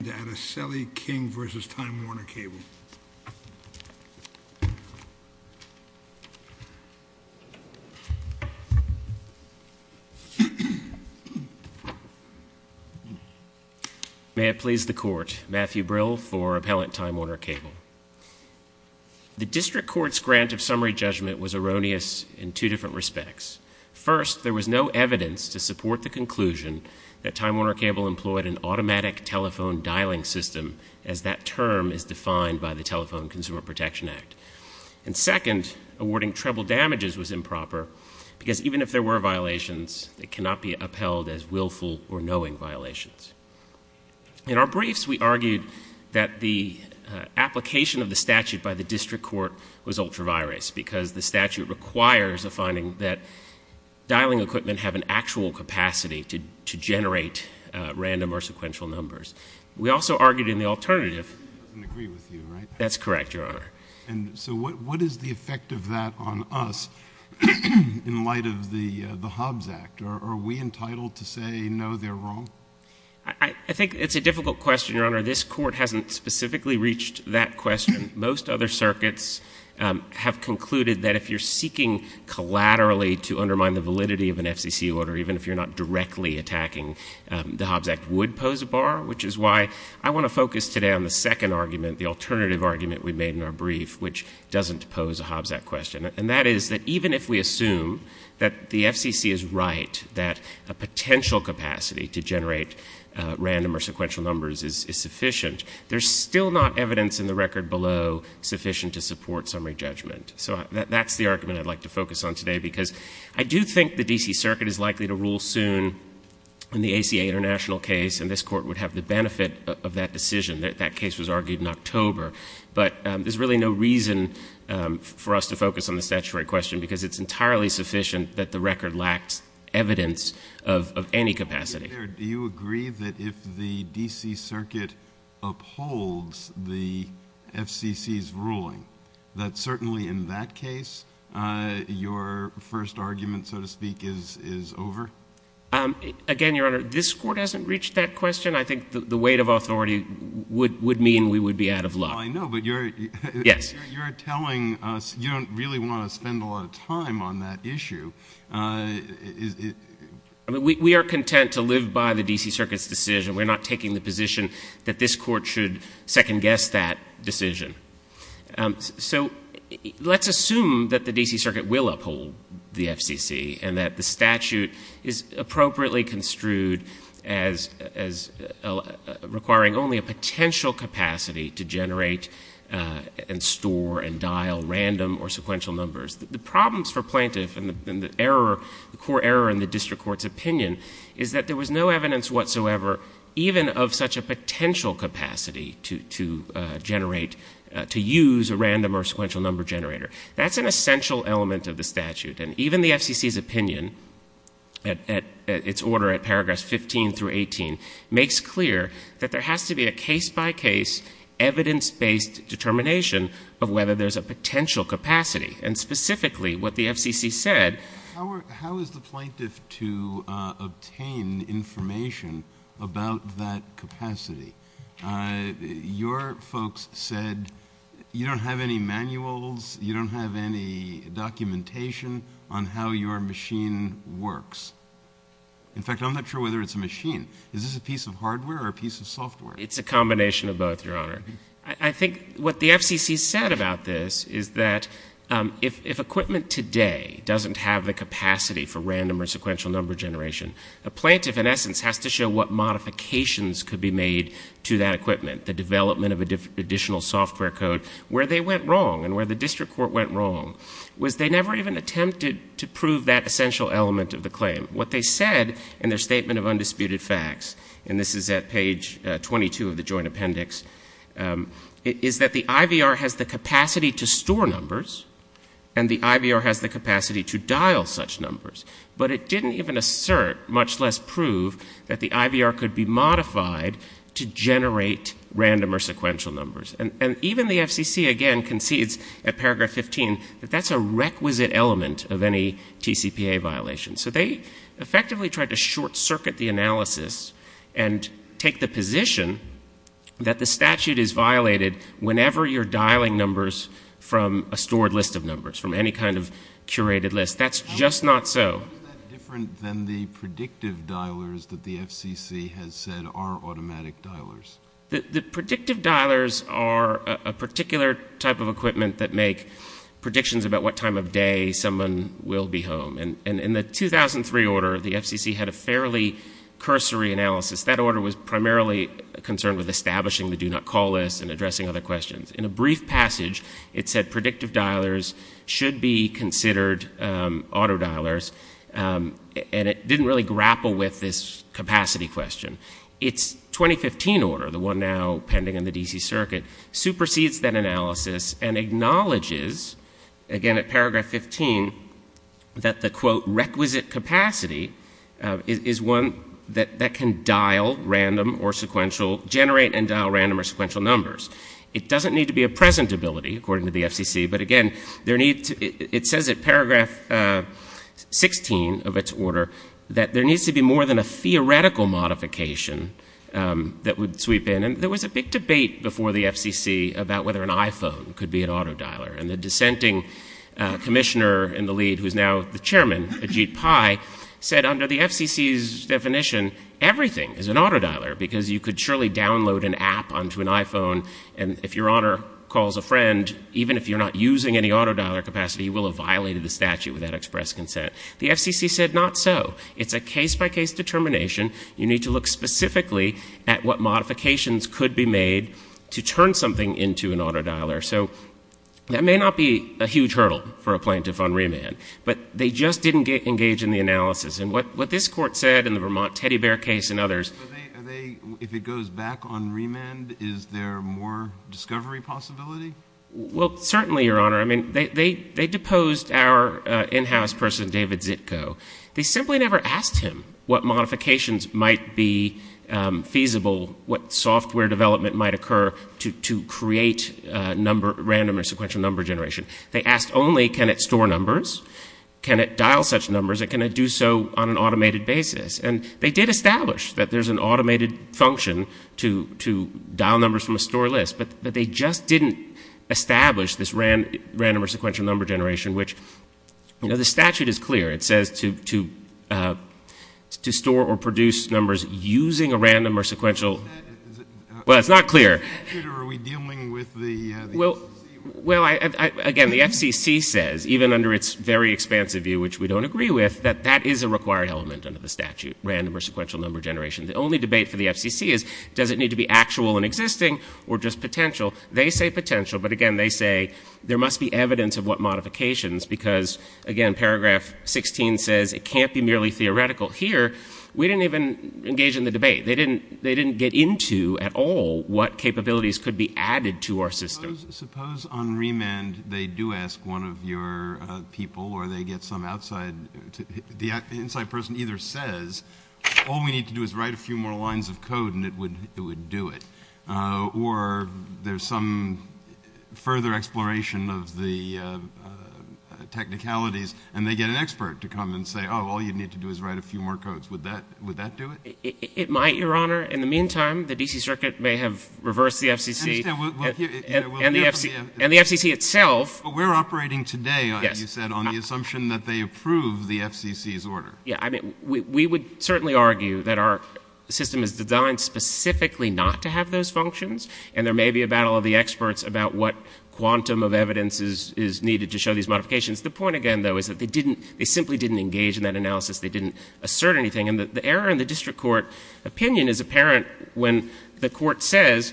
May it please the Court, Matthew Brill for Appellant Time Warner Cable. The District Court's grant of summary judgment was erroneous in two different respects. First, there was no evidence to support the conclusion that Time Warner Cable employed an automatic telephone dialing system, as that term is defined by the Telephone Consumer Protection Act. And second, awarding treble damages was improper, because even if there were violations, they cannot be upheld as willful or knowing violations. In our briefs, we argued that the application of the statute by the District Court was ultra virus, because the statute requires a finding that dialing equipment have an actual capacity to generate random or sequential numbers. We also argued in the alternative — He doesn't agree with you, right? That's correct, Your Honor. And so what is the effect of that on us in light of the Hobbs Act? Are we entitled to say no, they're wrong? I think it's a difficult question, Your Honor. This Court hasn't specifically reached that question. Most other circuits have concluded that if you're seeking collaterally to undermine the statute, automatically attacking the Hobbs Act would pose a bar, which is why I want to focus today on the second argument, the alternative argument we made in our brief, which doesn't pose a Hobbs Act question. And that is that even if we assume that the FCC is right, that a potential capacity to generate random or sequential numbers is sufficient, there's still not evidence in the record below sufficient to support summary judgment. So that's the argument I'd like to focus on today, because I do think the D.C. Circuit is likely to rule soon in the ACA international case, and this Court would have the benefit of that decision. That case was argued in October. But there's really no reason for us to focus on the statutory question, because it's entirely sufficient that the record lacks evidence of any capacity. Do you agree that if the D.C. Circuit upholds the FCC's ruling, that certainly in that case, your first argument, so to speak, is over? Again, Your Honor, this Court hasn't reached that question. I think the weight of authority would mean we would be out of luck. I know, but you're telling us you don't really want to spend a lot of time on that issue. We are content to live by the D.C. Circuit's decision. We're not taking the position that this Court should second-guess that decision. So let's assume that the D.C. Circuit will uphold the FCC and that the statute is appropriately construed as requiring only a potential capacity to generate and store and dial random or sequential numbers. The problems for plaintiff and the core error in the district court's opinion is that there was no evidence whatsoever, even of such a potential capacity to generate a potential to use a random or sequential number generator. That's an essential element of the statute, and even the FCC's opinion, at its order at paragraphs 15 through 18, makes clear that there has to be a case-by-case, evidence-based determination of whether there's a potential capacity. And specifically, what the FCC said— How is the plaintiff to obtain information about that capacity? Your folks said you don't have any manuals, you don't have any documentation on how your machine works. In fact, I'm not sure whether it's a machine. Is this a piece of hardware or a piece of software? It's a combination of both, Your Honor. I think what the FCC said about this is that if equipment today doesn't have the capacity for random or sequential number generation, a plaintiff, in essence, has to show what modifications could be made to that equipment, the development of additional software code. Where they went wrong, and where the district court went wrong, was they never even attempted to prove that essential element of the claim. What they said in their statement of undisputed facts—and this is at page 22 of the Joint Appendix—is that the IVR has the capacity to store numbers, and the IVR has the capacity to dial such numbers. But it didn't even assert, much less prove, that the IVR could be modified to generate random or sequential numbers. And even the FCC, again, concedes at paragraph 15 that that's a requisite element of any TCPA violation. So they effectively tried to short-circuit the analysis and take the position that the statute is violated whenever you're dialing numbers from a stored list of numbers, from any kind of curated list. That's just not so. How is that different than the predictive dialers that the FCC has said are automatic dialers? The predictive dialers are a particular type of equipment that make predictions about what time of day someone will be home. In the 2003 order, the FCC had a fairly cursory analysis. That order was primarily concerned with establishing the do-not-call list and addressing other questions. In a brief passage, it said predictive dialers should be considered auto-dialers, and it didn't really grapple with this capacity question. Its 2015 order, the one now pending in the D.C. Circuit, supersedes that analysis and acknowledges, again at paragraph 15, that the, quote, requisite capacity is one that can dial random or sequential, generate and dial random or sequential numbers. It doesn't need to be a present ability, according to the FCC, but again, there needs to, it says at paragraph 16 of its order, that there needs to be more than a theoretical modification that would sweep in. And there was a big debate before the FCC about whether an iPhone could be an auto-dialer. And the dissenting commissioner in the lead, who's now the chairman, Ajit Pai, said under the FCC's definition, everything is an auto-dialer, because you could surely download an app onto an iPhone, and if your owner calls a friend, even if you're not using any auto-dialer capacity, you will have violated the statute with that express consent. The FCC said not so. It's a case-by-case determination. You need to look specifically at what modifications could be made to turn something into an auto-dialer. So that may not be a huge hurdle for a plaintiff on remand, but they just didn't engage in the analysis. And what this Court said in the Vermont Teddy Bear case and others— If it goes back on remand, is there more discovery possibility? Well, certainly, Your Honor. I mean, they deposed our in-house person, David Zitko. They simply never asked him what modifications might be feasible, what software development might occur to create random or sequential number generation. They asked only, can it store numbers? Can it dial such numbers? And can it do so on an automated basis? And they did establish that there's an automated function to dial numbers from a store list, but they just didn't establish this random or sequential number generation, which— You know, the statute is clear. It says to store or produce numbers using a random or sequential— Well, it's not clear. Are we dealing with the FCC? Well, again, the FCC says, even under its very expansive view, which we don't agree with, that that is a required element under the statute, random or sequential number generation. The only debate for the FCC is, does it need to be actual and existing or just potential? They say potential, but again, they say there must be evidence of what modifications, because again, paragraph 16 says it can't be merely theoretical. Here, we didn't even engage in the debate. They didn't get into at all what capabilities could be added to our system. Suppose on remand, they do ask one of your people or they get some outside— The inside person either says, all we need to do is write a few more lines of code and it would do it, or there's some further exploration of the technicalities, and they get an expert to come and say, oh, all you need to do is write a few more codes. Would that do it? It might, Your Honor. In the meantime, the D.C. Circuit may have reversed the FCC. And the FCC itself— But we're operating today, you said, on the assumption that they approve the FCC's order. Yeah. I mean, we would certainly argue that our system is designed specifically not to have those functions, and there may be a battle of the experts about what quantum of evidence is needed to show these modifications. The point, again, though, is that they simply didn't engage in that analysis. They didn't assert anything, and the error in the district court opinion is apparent when the court says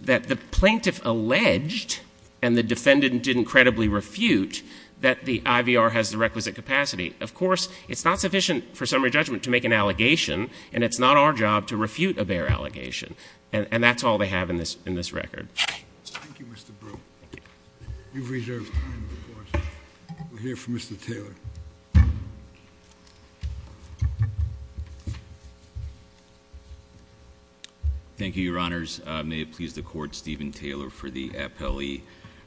that the plaintiff alleged and the defendant didn't credibly refute that the IVR has the requisite capacity. Of course, it's not sufficient for summary judgment to make an allegation, and it's not our job to refute a bare allegation. And that's all they have in this record. Thank you, Mr. Brewer. You've reserved time, of course. We'll hear from Mr. Taylor. Thank you, Your Honors. May it please the Court, Stephen Taylor for the appellee.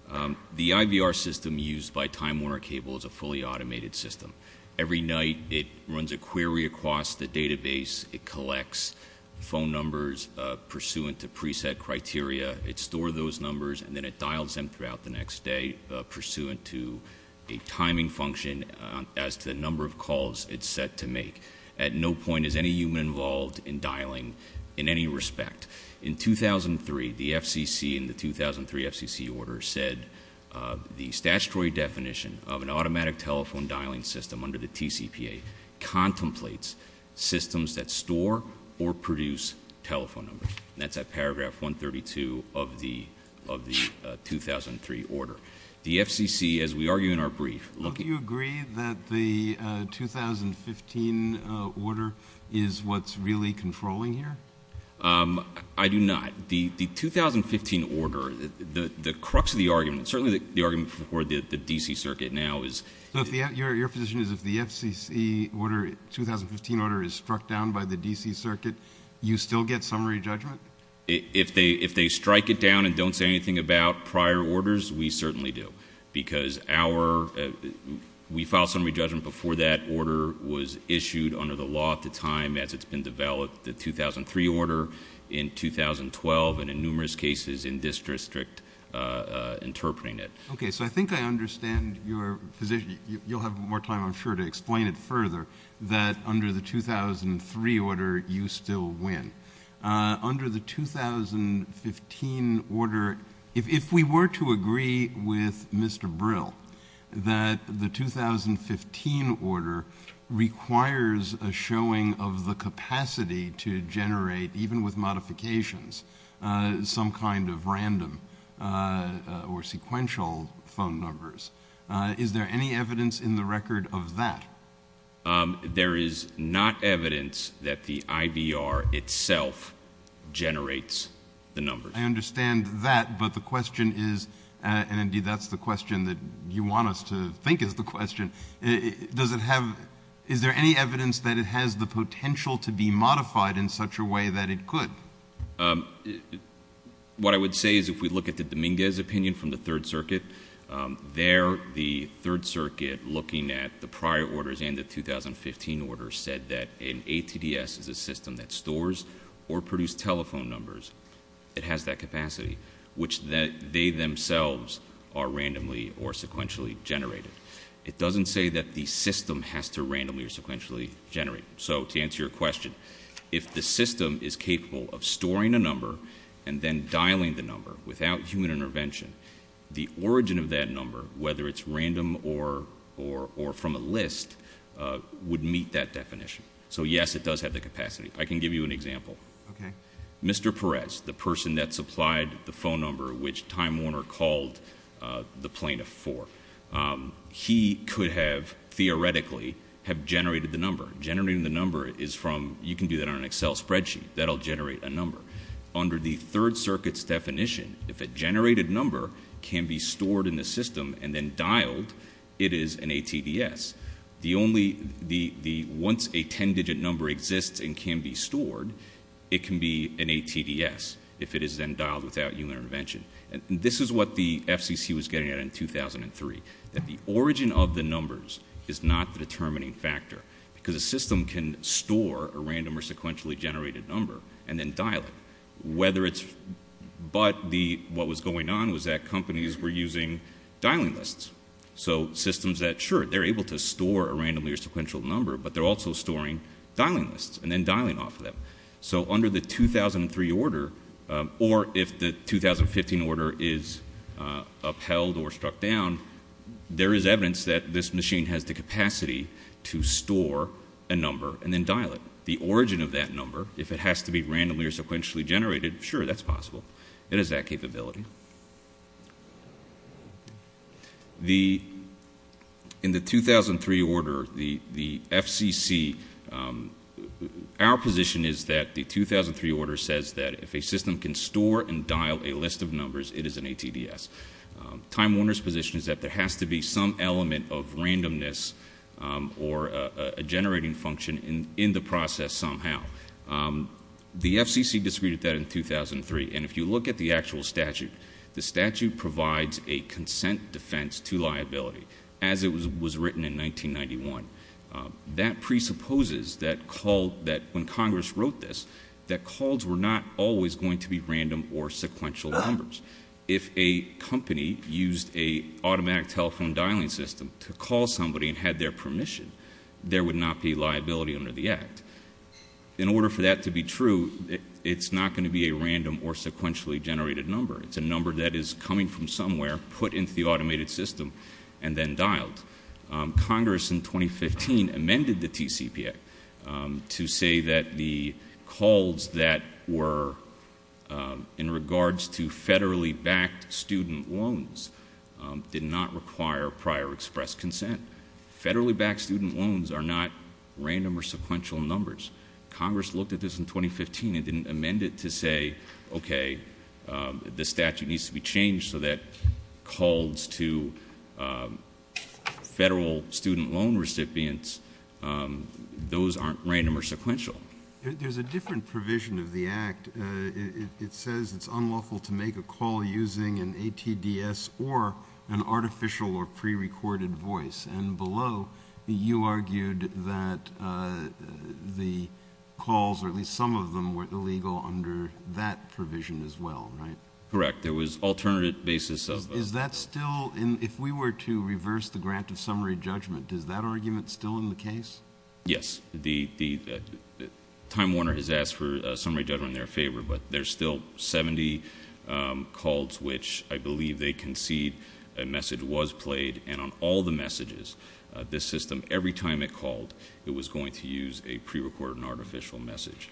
The IVR system used by Time Warner Cable is a fully automated system. Every night, it runs a query across the database. It collects phone numbers pursuant to preset criteria. It stores those numbers, and then it dials them throughout the next day pursuant to a timing function as to the number of calls it's set to make. At no point is any human involved in dialing in any respect. In 2003, the FCC in the 2003 FCC order said the statutory definition of an automatic telephone dialing system under the TCPA contemplates systems that store or produce telephone numbers. And that's at paragraph 132 of the 2003 order. The FCC, as we argue in our brief, looking— Do you agree that the 2015 order is what's really controlling here? I do not. The 2015 order, the crux of the argument, certainly the argument for the D.C. Circuit now is— So your position is if the FCC order, 2015 order, is struck down by the D.C. Circuit, you still get summary judgment? If they strike it down and don't say anything about prior orders, we certainly do, because we filed summary judgment before that order was issued under the law at the time as it's been developed, the 2003 order in 2012 and in numerous cases in this district interpreting it. Okay, so I think I understand your position. You'll have more time, I'm sure, to explain it further that under the 2003 order, you still win. Under the 2015 order, if we were to agree with Mr. Brill that the 2015 order requires a showing of the capacity to generate, even with modifications, some kind of random or sequential phone numbers, is there any evidence in the record of that? There is not evidence that the IVR itself generates the numbers. I understand that, but the question is—and, indeed, that's the question that you want us to think is the question— does it have—is there any evidence that it has the potential to be modified in such a way that it could? What I would say is if we look at the Dominguez opinion from the Third Circuit, there the Third Circuit, looking at the prior orders and the 2015 orders, said that an ATDS is a system that stores or produces telephone numbers. It has that capacity, which they themselves are randomly or sequentially generated. It doesn't say that the system has to randomly or sequentially generate. So to answer your question, if the system is capable of storing a number and then dialing the number without human intervention, the origin of that number, whether it's random or from a list, would meet that definition. So, yes, it does have the capacity. I can give you an example. Mr. Perez, the person that supplied the phone number which Time Warner called the plaintiff for, he could have theoretically have generated the number. Generating the number is from—you can do that on an Excel spreadsheet. That will generate a number. Under the Third Circuit's definition, if a generated number can be stored in the system and then dialed, it is an ATDS. Once a ten-digit number exists and can be stored, it can be an ATDS if it is then dialed without human intervention. This is what the FCC was getting at in 2003, that the origin of the numbers is not the determining factor because a system can store a random or sequentially generated number and then dial it. But what was going on was that companies were using dialing lists. So systems that, sure, they're able to store a randomly or sequential number, but they're also storing dialing lists and then dialing off of them. So under the 2003 order, or if the 2015 order is upheld or struck down, there is evidence that this machine has the capacity to store a number and then dial it. The origin of that number, if it has to be randomly or sequentially generated, sure, that's possible. It has that capability. In the 2003 order, the FCC, our position is that the 2003 order says that if a system can store and dial a list of numbers, it is an ATDS. Time Warner's position is that there has to be some element of randomness or a generating function in the process somehow. The FCC disagreed with that in 2003, and if you look at the actual statute, the statute provides a consent defense to liability, as it was written in 1991. That presupposes that when Congress wrote this, that calls were not always going to be random or sequential numbers. If a company used an automatic telephone dialing system to call somebody and had their permission, there would not be liability under the act. In order for that to be true, it's not going to be a random or sequentially generated number. It's a number that is coming from somewhere, put into the automated system, and then dialed. Congress, in 2015, amended the TCPA to say that the calls that were in regards to federally backed student loans did not require prior express consent. Federally backed student loans are not random or sequential numbers. Congress looked at this in 2015 and didn't amend it to say, okay, the statute needs to be changed so that calls to federal student loan recipients, those aren't random or sequential. There's a different provision of the act. It says it's unlawful to make a call using an ATDS or an artificial or prerecorded voice, and below, you argued that the calls, or at least some of them, were illegal under that provision as well, right? Correct. There was alternative basis of... Is that still... if we were to reverse the grant of summary judgment, is that argument still in the case? Yes. Time Warner has asked for summary judgment in their favor, but there's still 70 calls which I believe they concede a message was played, and on all the messages, this system, every time it called, it was going to use a prerecorded and artificial message.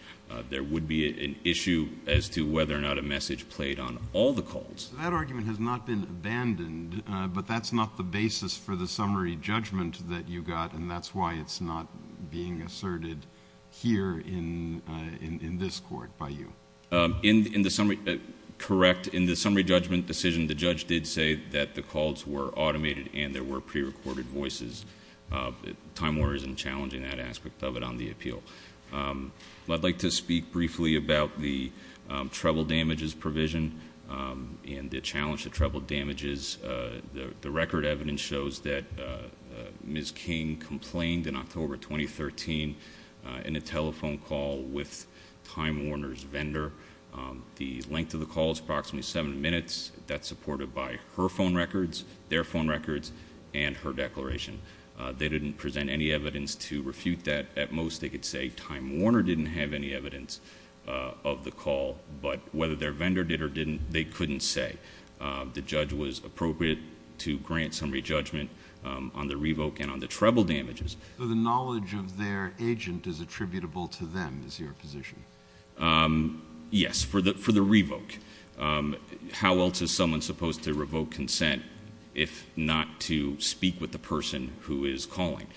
There would be an issue as to whether or not a message played on all the calls. That argument has not been abandoned, but that's not the basis for the summary judgment that you got, and that's why it's not being asserted here in this court by you. Correct. In the summary judgment decision, the judge did say that the calls were automated and there were prerecorded voices. Time Warner isn't challenging that aspect of it on the appeal. I'd like to speak briefly about the treble damages provision and the challenge of treble damages. The record evidence shows that Ms. King complained in October 2013 in a telephone call with Time Warner's vendor. The length of the call is approximately seven minutes. That's supported by her phone records, their phone records, and her declaration. They didn't present any evidence to refute that. At most, they could say Time Warner didn't have any evidence of the call, but whether their vendor did or didn't, they couldn't say. The judge was appropriate to grant summary judgment on the revoke and on the treble damages. So the knowledge of their agent is attributable to them is your position? Yes, for the revoke. How else is someone supposed to revoke consent if not to speak with the person who is calling?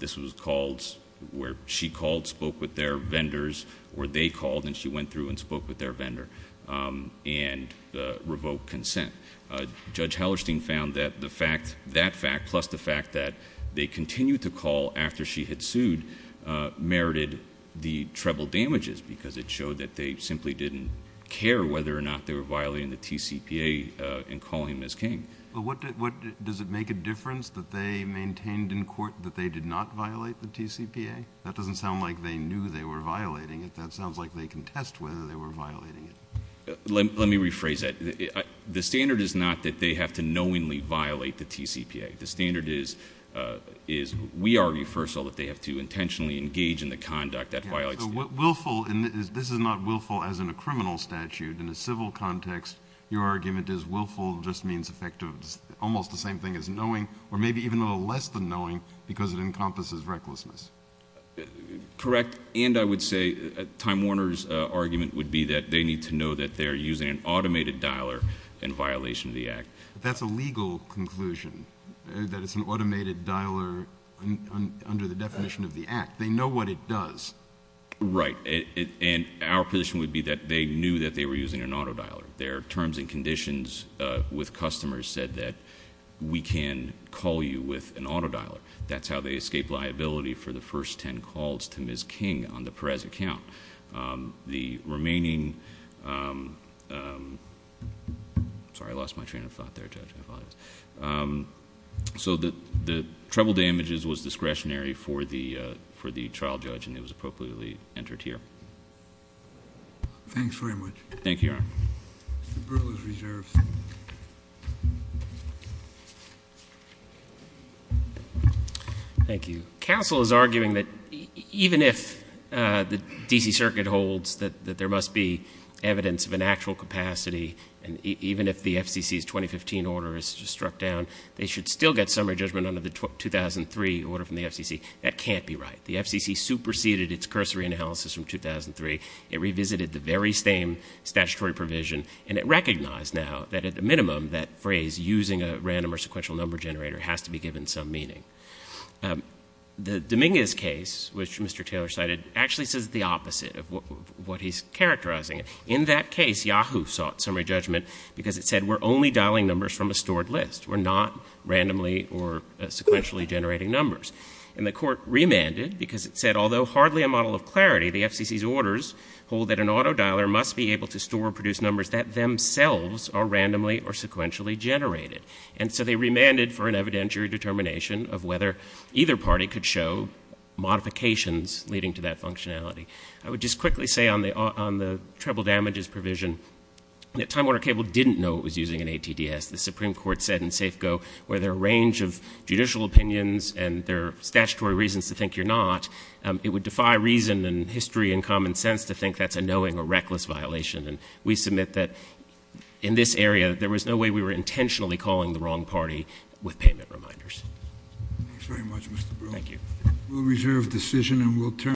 This was calls where she called, spoke with their vendors, or they called and she went through and spoke with their vendor, and revoked consent. Judge Hallerstein found that that fact plus the fact that they continued to call after she had sued merited the treble damages because it showed that they simply didn't care whether or not they were violating the TCPA in calling Ms. King. Does it make a difference that they maintained in court that they did not violate the TCPA? That doesn't sound like they knew they were violating it. That sounds like they contest whether they were violating it. Let me rephrase that. The standard is not that they have to knowingly violate the TCPA. The standard is we argue, first of all, that they have to intentionally engage in the conduct that violates the TCPA. Willful, and this is not willful as in a criminal statute. In a civil context, your argument is willful just means effective, almost the same thing as knowing, or maybe even a little less than knowing because it encompasses recklessness. Correct. And I would say Time Warner's argument would be that they need to know that they're using an automated dialer in violation of the act. That's a legal conclusion, that it's an automated dialer under the definition of the act. They know what it does. Right. And our position would be that they knew that they were using an auto dialer. Their terms and conditions with customers said that we can call you with an auto dialer. That's how they escaped liability for the first ten calls to Ms. King on the Perez account. The remaining... sorry, I lost my train of thought there, Judge. I apologize. So the treble damages was discretionary for the trial judge, and it was appropriately entered here. Thank you, Your Honor. Mr. Brewer's reserves. Thank you. Counsel is arguing that even if the D.C. Circuit holds that there must be evidence of an actual capacity, and even if the FCC's 2015 order is struck down, they should still get summary judgment under the 2003 order from the FCC. That can't be right. The FCC superseded its cursory analysis from 2003. It revisited the very same statutory provision, and it recognized now that at the minimum that phrase using a random or sequential number generator has to be given some meaning. The Dominguez case, which Mr. Taylor cited, actually says the opposite of what he's characterizing it. In that case, Yahoo sought summary judgment because it said we're only dialing numbers from a stored list. We're not randomly or sequentially generating numbers. And the court remanded because it said although hardly a model of clarity, the FCC's orders hold that an auto dialer must be able to store or produce numbers that themselves are randomly or sequentially generated. And so they remanded for an evidentiary determination of whether either party could show modifications leading to that functionality. I would just quickly say on the treble damages provision that Time Warner Cable didn't know it was using an ATDS. As the Supreme Court said in Safeco, where there are a range of judicial opinions and there are statutory reasons to think you're not, it would defy reason and history and common sense to think that's a knowing or reckless violation. And we submit that in this area, there was no way we were intentionally calling the wrong party with payment reminders. Thanks very much, Mr. Brill. Thank you. We'll reserve decision, and we'll turn.